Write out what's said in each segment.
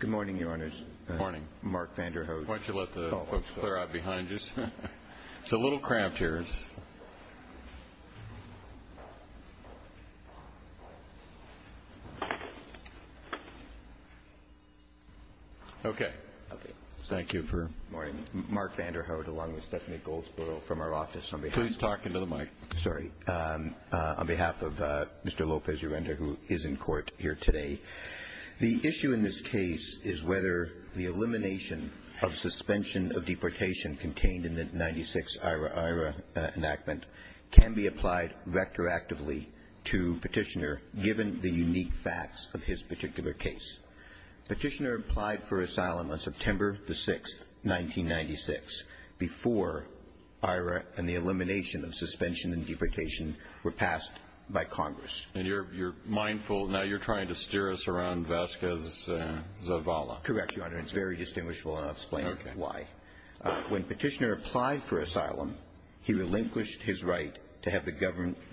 Good morning, Your Honors. Good morning. Mark Vanderhoof. Why don't you let the folks clear out behind you. It's a little cramped here. Okay. Thank you for morning. Mark Vanderhoof along with Stephanie Goldsboro from our office. Please talk into the mic. Sorry. On behalf of Mr. Lopez-Urenda who is in court here today, the issue in this case is whether the elimination of suspension of deportation contained in the 96-IRA-IRA enactment can be applied retroactively to Petitioner given the unique facts of his particular case. Petitioner applied for asylum on September the 6th, 1996 before IRA and the elimination of suspension and deportation were passed by Congress. And you're mindful, now you're trying to steer us around Vasquez-Zavala. Correct, Your Honor. It's very distinguishable and I'll explain why. When Petitioner applied for asylum, he relinquished his right to have the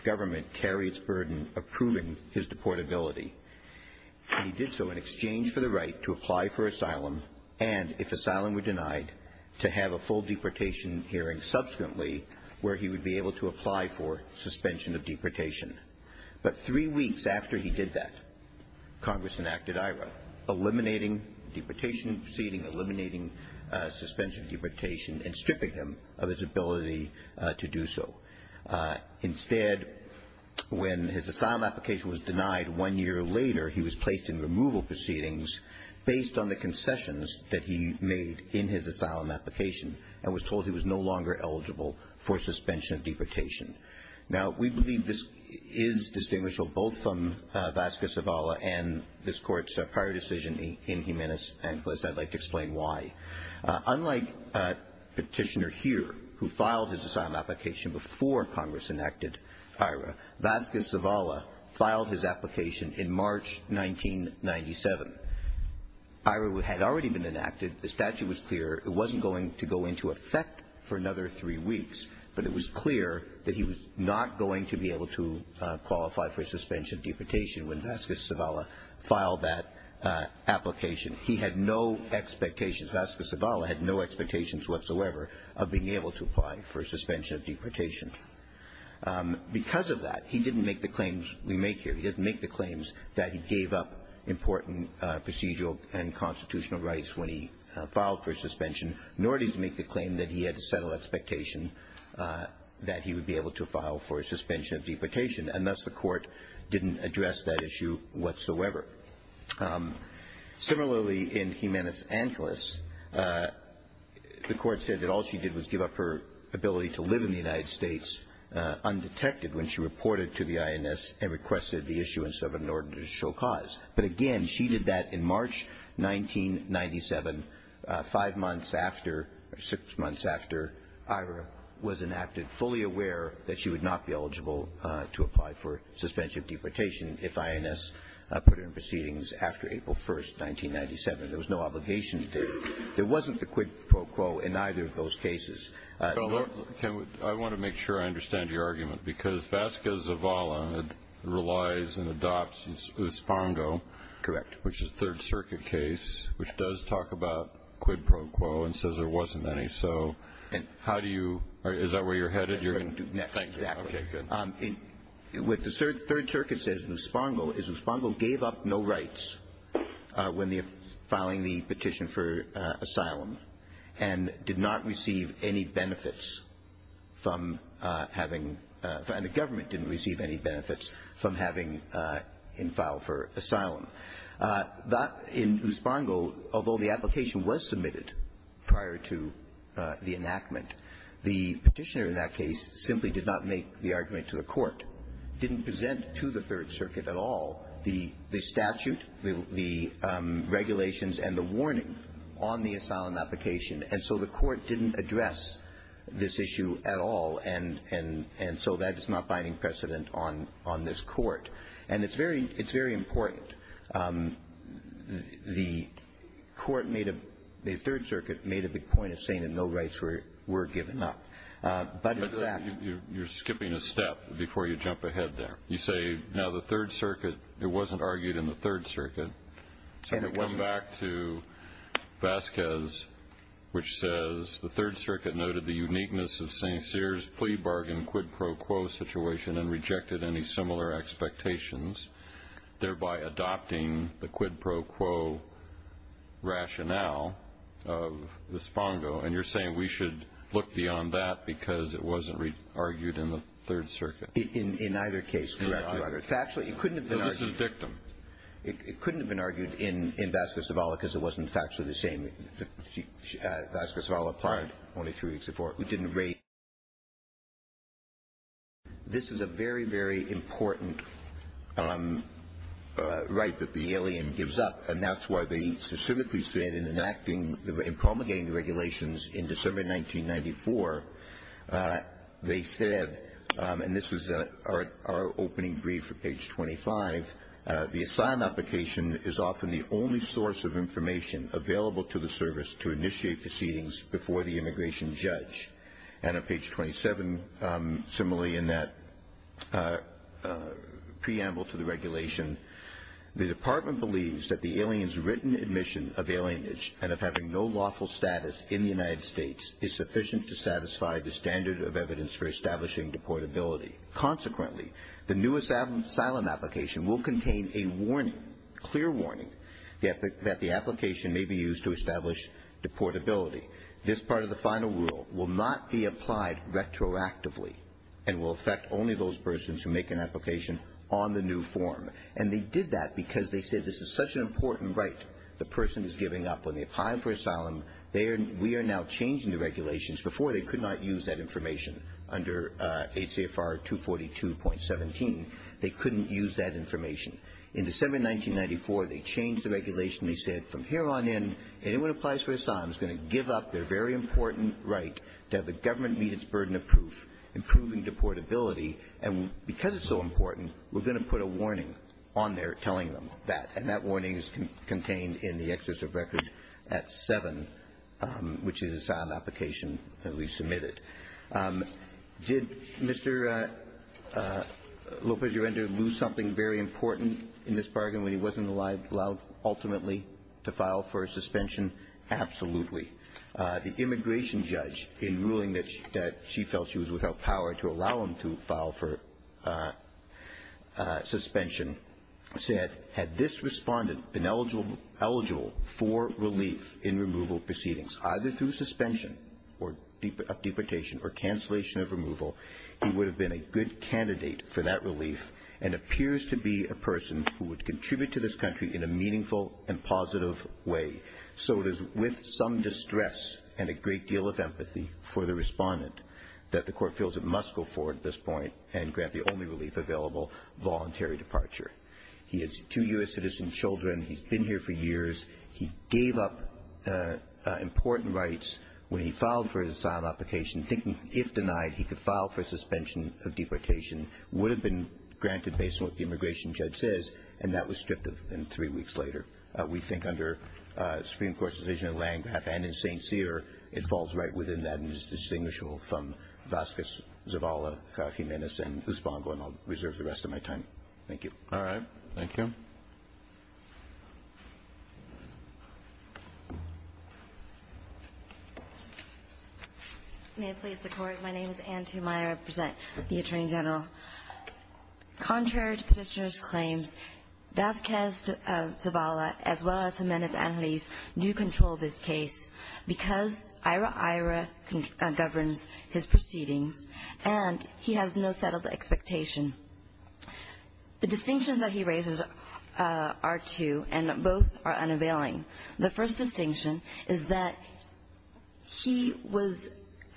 government carry its burden approving his deportability. And he did so in exchange for the right to apply for asylum and, if asylum were denied, to have a full deportation hearing subsequently where he would be able to apply for suspension of deportation. But three weeks after he did that, Congress enacted IRA, eliminating deportation proceedings, eliminating suspension of deportation and stripping him of his ability to do so. Instead, when his asylum application was denied one year later, he was placed in removal proceedings based on the concessions that he made in his asylum application and was told he was no longer eligible for suspension of deportation. Now, we believe this is distinguishable both from Vasquez-Zavala and this Court's prior decision in Jimenez and I'd like to explain why. Unlike Petitioner here, who filed his asylum application before Congress enacted IRA, Vasquez-Zavala filed his application in March 1997. IRA had already been enacted. The statute was clear. It wasn't going to go into effect for another three weeks, but it was clear that he was not going to be able to qualify for suspension of deportation when Vasquez-Zavala filed that application. He had no expectations. Vasquez-Zavala had no expectations whatsoever of being able to apply for suspension of deportation. Because of that, he didn't make the claims we make here. He didn't make the claims that he gave up important procedural and constitutional rights when he filed for suspension, nor did he make the claim that he had to settle expectation that he would be able to file for suspension of deportation, and thus the Court didn't address that issue whatsoever. Similarly, in Jimenez-Angeles, the Court said that all she did was give up her ability to live in the United States undetected when she reported to the INS and requested the issuance of an order to show cause. But again, she did that in March 1997, five months after or six months after IRA was enacted, fully aware that she would not be eligible to apply for suspension of deportation if INS put in proceedings after April 1, 1997. There was no obligation to do it. There wasn't a quid pro quo in either of those cases. I want to make sure I understand your argument, because Vasquez-Zavala relies and adopts Uspongo. Correct. Which is a Third Circuit case, which does talk about quid pro quo and says there wasn't any. So how do you – is that where you're headed? Yes, exactly. Okay, good. What the Third Circuit says in Uspongo is Uspongo gave up no rights when filing the petition for asylum and did not receive any benefits from having – and the government didn't receive any benefits from having – in file for asylum. That – in Uspongo, although the application was submitted prior to the enactment, the petitioner in that case simply did not make the argument to the Court, didn't present to the Third Circuit at all the statute, the regulations, and the warning on the asylum application. And so the Court didn't address this issue at all, and so that is not binding precedent on this Court. And it's very – it's very important. The Court made a – the Third Circuit made a big point of saying that no rights were given up. But in fact – You're skipping a step before you jump ahead there. You say, now, the Third Circuit – it wasn't argued in the Third Circuit. And it wasn't – Vasquez, which says the Third Circuit noted the uniqueness of St. Cyr's plea bargain quid pro quo situation and rejected any similar expectations, thereby adopting the quid pro quo rationale of Uspongo. And you're saying we should look beyond that because it wasn't argued in the Third Circuit. In either case, Your Honor. Factually, it couldn't have been argued. No, this is dictum. It couldn't have been argued in – in Vasquez-Zavala because it wasn't factually the same. Vasquez-Zavala applied only three weeks before. We didn't raise – This is a very, very important right that the alien gives up, and that's why they specifically said in enacting – in promulgating the regulations in December 1994, they said – and this is our opening brief at page 25 – the asylum application is often the only source of information available to the service to initiate proceedings before the immigration judge. And on page 27, similarly in that preamble to the regulation, the Department believes that the alien's written admission of alienage and of having no lawful status in the United States is sufficient to satisfy the standard of evidence for establishing deportability. Consequently, the new asylum application will contain a warning, clear warning, that the application may be used to establish deportability. This part of the final rule will not be applied retroactively and will affect only those persons who make an application on the new form. And they did that because they said this is such an important right the person is giving up. When they apply for asylum, they are – we are now changing the regulations. Before, they could not use that information under ACFR 242.17. They couldn't use that information. In December 1994, they changed the regulation. They said from here on in, anyone who applies for asylum is going to give up their very important right to have the government meet its burden of proof, improving deportability. And because it's so important, we're going to put a warning on there telling them that. And that warning is contained in the excess of record at 7, which is the asylum application that we submitted. Did Mr. Lopez-Urender lose something very important in this bargain when he wasn't allowed ultimately to file for a suspension? Absolutely. The immigration judge, in ruling that she felt she was without power to allow him to file for suspension, said, had this respondent been eligible for relief in removal proceedings, either through suspension of deportation or cancellation of removal, he would have been a good candidate for that relief and appears to be a person who would contribute to this country in a meaningful and positive way. So it is with some distress and a great deal of empathy for the respondent that the court feels it must go forward at this point and grant the only relief available, voluntary departure. He has two U.S. citizen children. He's been here for years. He gave up important rights when he filed for his asylum application, thinking if denied he could file for suspension of deportation, would have been granted based on what the immigration judge says, and that was stripped of him three weeks later. We think under Supreme Court's decision on Lange's behalf and in St. Cyr, it falls right within that and is distinguishable from Vasquez, Zavala, Fajimedes, and Usbongo, and I'll reserve the rest of my time. Thank you. All right. Thank you. May it please the Court. My name is Anne Tumeyer. I present the Attorney General. Contrary to petitioner's claims, Vasquez, Zavala, as well as Fajimedes and Usbongo do control this case because Ira-Ira governs his proceedings, and he has no settled expectation. The distinctions that he raises are two, and both are unavailing. The first distinction is that he was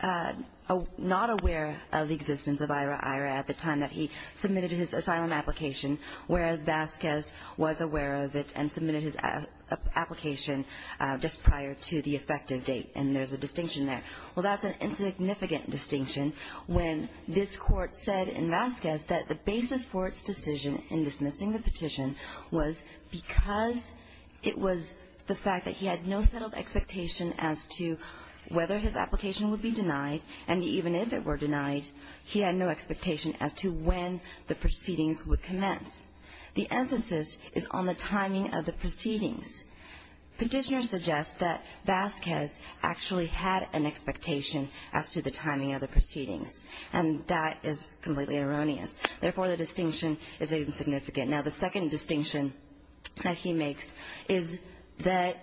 not aware of the existence of Ira-Ira at the time that he submitted his asylum application, whereas Vasquez was aware of it and submitted his application just prior to the effective date, and there's a distinction there. Well, that's an insignificant distinction when this Court said in Vasquez that the basis for its decision in dismissing the petition was because it was the fact that he had no settled expectation as to whether his application would be denied, and even if it were denied, he had no expectation as to when the proceedings would commence. The emphasis is on the timing of the proceedings. Petitioner suggests that Vasquez actually had an expectation as to the timing of the proceedings, and that is completely erroneous. Therefore, the distinction is insignificant. Now, the second distinction that he makes is that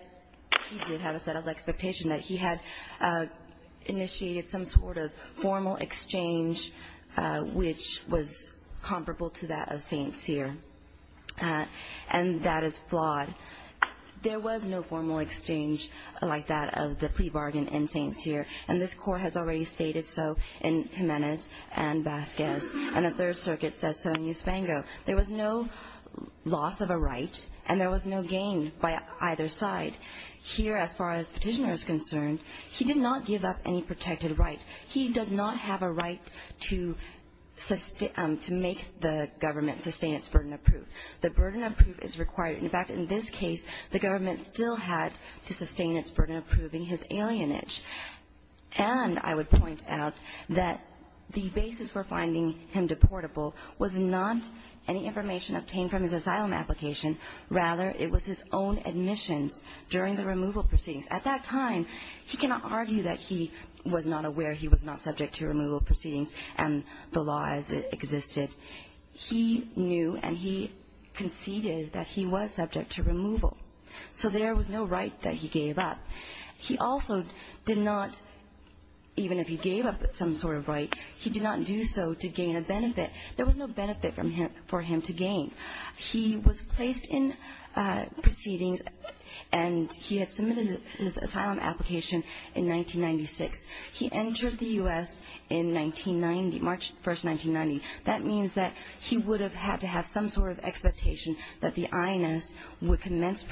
he did have a settled expectation, that he had initiated some sort of formal exchange which was comparable to that of St. Cyr, and that is flawed. There was no formal exchange like that of the plea bargain in St. Cyr, and this Court has already stated so in Jimenez and Vasquez, and the Third Circuit says so in Eusbango. There was no loss of a right and there was no gain by either side. Here, as far as Petitioner is concerned, he did not give up any protected right. He does not have a right to make the government sustain its burden of proof. The burden of proof is required. In fact, in this case, the government still had to sustain its burden of proving his alienage. And I would point out that the basis for finding him deportable was not any information obtained from his asylum application. Rather, it was his own admissions during the removal proceedings. At that time, he cannot argue that he was not aware he was not subject to removal proceedings and the law as it existed. He knew and he conceded that he was subject to removal. So there was no right that he gave up. He also did not, even if he gave up some sort of right, he did not do so to gain a benefit. There was no benefit for him to gain. He was placed in proceedings and he had submitted his asylum application in 1996. He entered the U.S. in 1990, March 1, 1990. That means that he would have had to have some sort of expectation that the INS would That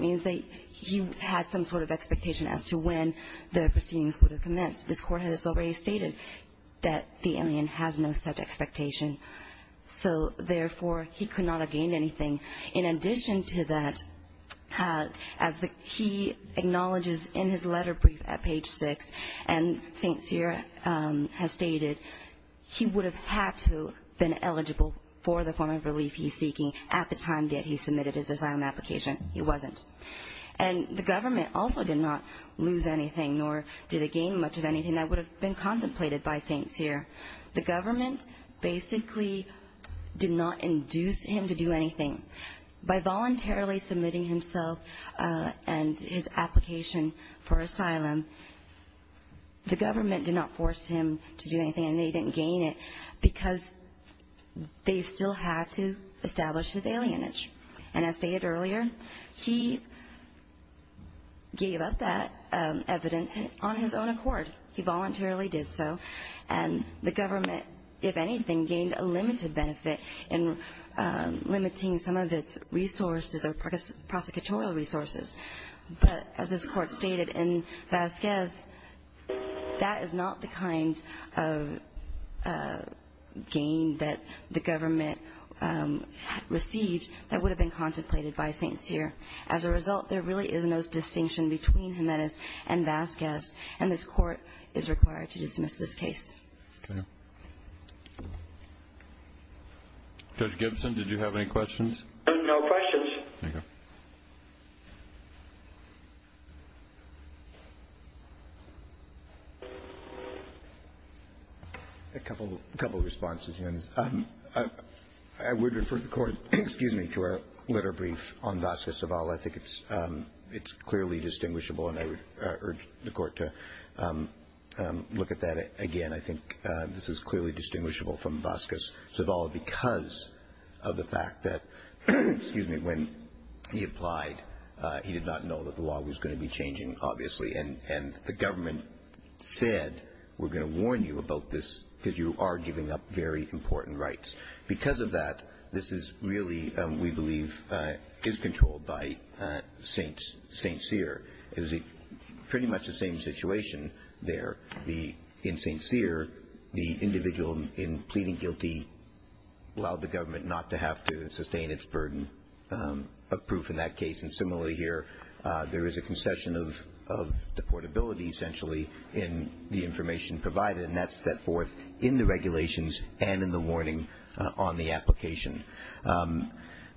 means that he had some sort of expectation as to when the proceedings would have commenced. This court has already stated that the alien has no such expectation. So, therefore, he could not have gained anything. In addition to that, as he acknowledges in his letter brief at page 6, and St. Cyr has stated, he would have had to have been eligible for the form of relief he's seeking at the time that he submitted his asylum application. He wasn't. And the government also did not lose anything nor did it gain much of anything that would have been contemplated by St. Cyr. The government basically did not induce him to do anything. By voluntarily submitting himself and his application for asylum, the government did not force him to do anything and they didn't gain it because they still had to establish his alienage. And as stated earlier, he gave up that evidence on his own accord. He voluntarily did so. And the government, if anything, gained a limited benefit in limiting some of its resources or prosecutorial resources. But as this court stated in Vasquez, that is not the kind of gain that the government received that would have been contemplated by St. Cyr. As a result, there really is no distinction between Jimenez and Vasquez, and this court is required to dismiss this case. Okay. Judge Gibson, did you have any questions? No questions. Thank you. A couple of responses, Jimenez. I would refer the Court, excuse me, to our letter brief on Vasquez-Zavala. I think it's clearly distinguishable and I would urge the Court to look at that again. I think this is clearly distinguishable from Vasquez-Zavala because of the fact that, excuse me, when he applied, he did not know that the law was going to be changing, obviously. And the government said, we're going to warn you about this because you are giving up very important rights. Because of that, this is really, we believe, is controlled by St. Cyr. It was pretty much the same situation there. In St. Cyr, the individual in pleading guilty allowed the government not to have to sustain its burden of proof in that case. And similarly here, there is a concession of deportability, essentially, in the information provided, and that's set forth in the regulations and in the warning on the application.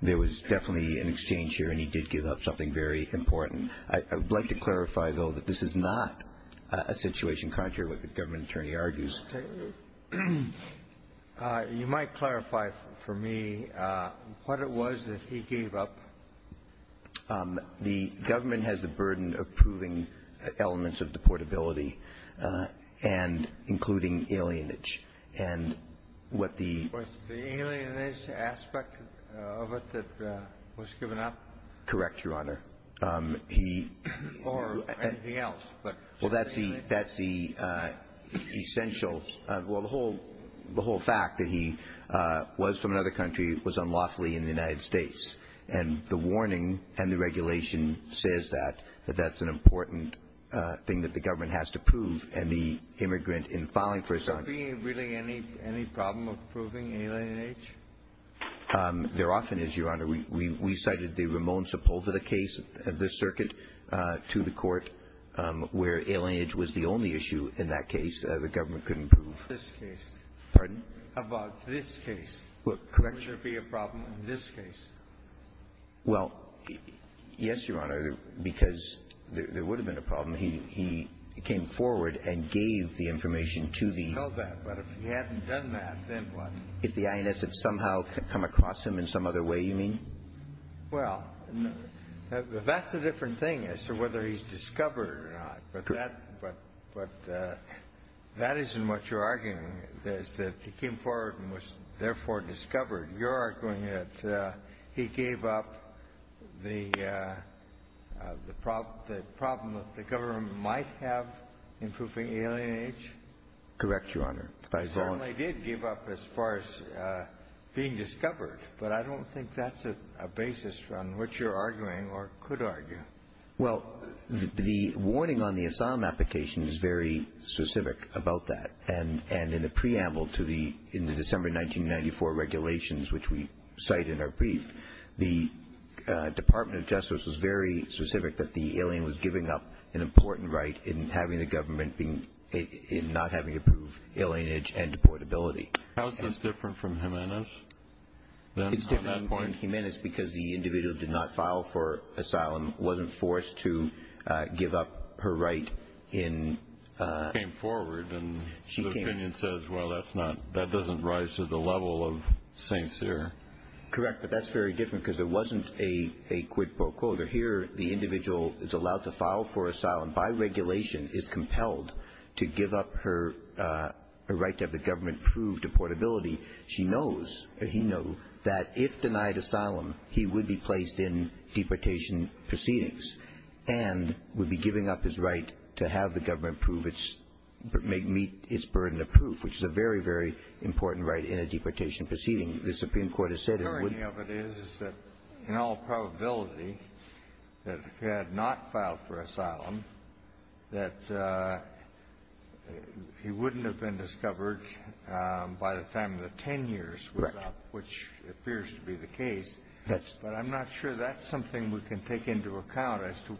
There was definitely an exchange here, and he did give up something very important. I would like to clarify, though, that this is not a situation contrary to what the government attorney argues. You might clarify for me what it was that he gave up. The government has the burden of proving elements of deportability and including alienage. And what the ---- Was the alienage aspect of it that was given up? Correct, Your Honor. He ---- Or anything else? Well, that's the essential ---- Well, the whole fact that he was from another country was unlawfully in the United States. And the warning and the regulation says that, that that's an important thing that the government has to prove, and the immigrant in filing for asylum ---- So being really any problem of proving alienage? There often is, Your Honor. We cited the Ramon Sepulveda case of the circuit to the Court where alienage was the only issue in that case. The government couldn't prove ---- This case. Pardon? About this case. Correct. Would there be a problem in this case? Well, yes, Your Honor, because there would have been a problem. He came forward and gave the information to the ---- He told that. But if he hadn't done that, then what? If the INS had somehow come across him in some other way, you mean? Well, that's a different thing as to whether he's discovered or not. But that isn't what you're arguing. It's that he came forward and was therefore discovered. You're arguing that he gave up the problem that the government might have in proving alienage? Correct, Your Honor. He certainly did give up as far as being discovered. But I don't think that's a basis on which you're arguing or could argue. Well, the warning on the asylum application is very specific about that. And in the preamble to the December 1994 regulations, which we cite in our brief, the Department of Justice was very specific that the alien was giving up an important right in having the government not having to prove alienage and deportability. How is this different from Jimenez? It's different in Jimenez because the individual did not file for asylum, wasn't forced to give up her right in ---- She came forward and the opinion says, well, that doesn't rise to the level of St. Cyr. Correct, but that's very different because there wasn't a quid pro quo. Here the individual is allowed to file for asylum by regulation, is compelled to give up her right to have the government prove deportability. She knows, or he knows, that if denied asylum, he would be placed in deportation proceedings and would be giving up his right to have the government prove its ---- meet its burden of proof, which is a very, very important right in a deportation proceeding. The Supreme Court has said it wouldn't ---- The irony of it is, is that in all probability that if he had not filed for asylum, that he wouldn't have been discovered by the time the 10 years was up, which appears to be the case. That's ---- But I'm not sure that's something we can take into account as to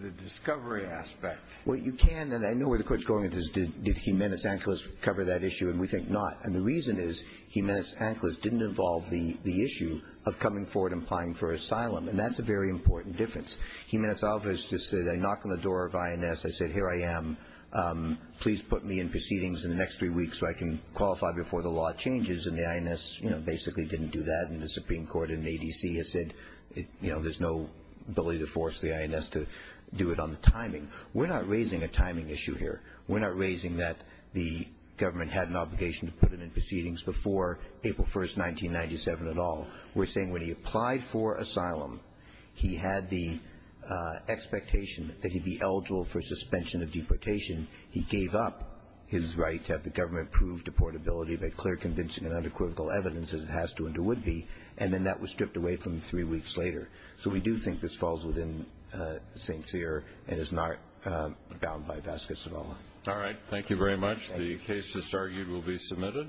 the discovery aspect. Well, you can, and I know where the Court's going with this, did Jimenez Angeles cover that issue, and we think not. And the reason is Jimenez Angeles didn't involve the issue of coming forward and applying for asylum. And that's a very important difference. Jimenez Angeles just said, I knock on the door of INS, I said, here I am. Please put me in proceedings in the next three weeks so I can qualify before the law changes. And the INS, you know, basically didn't do that. And the Supreme Court in ADC has said, you know, there's no ability to force the INS to do it on the timing. We're not raising a timing issue here. We're not raising that the government had an obligation to put him in proceedings before April 1st, 1997 at all. We're saying when he applied for asylum, he had the expectation that he'd be eligible for suspension of deportation. He gave up his right to have the government prove deportability by clear, convincing and unequivocal evidence, as it has to and it would be, and then that was stripped away from him three weeks later. So we do think this falls within St. Cyr and is not bound by Vasquez at all. All right. Thank you very much. The case that's argued will be submitted.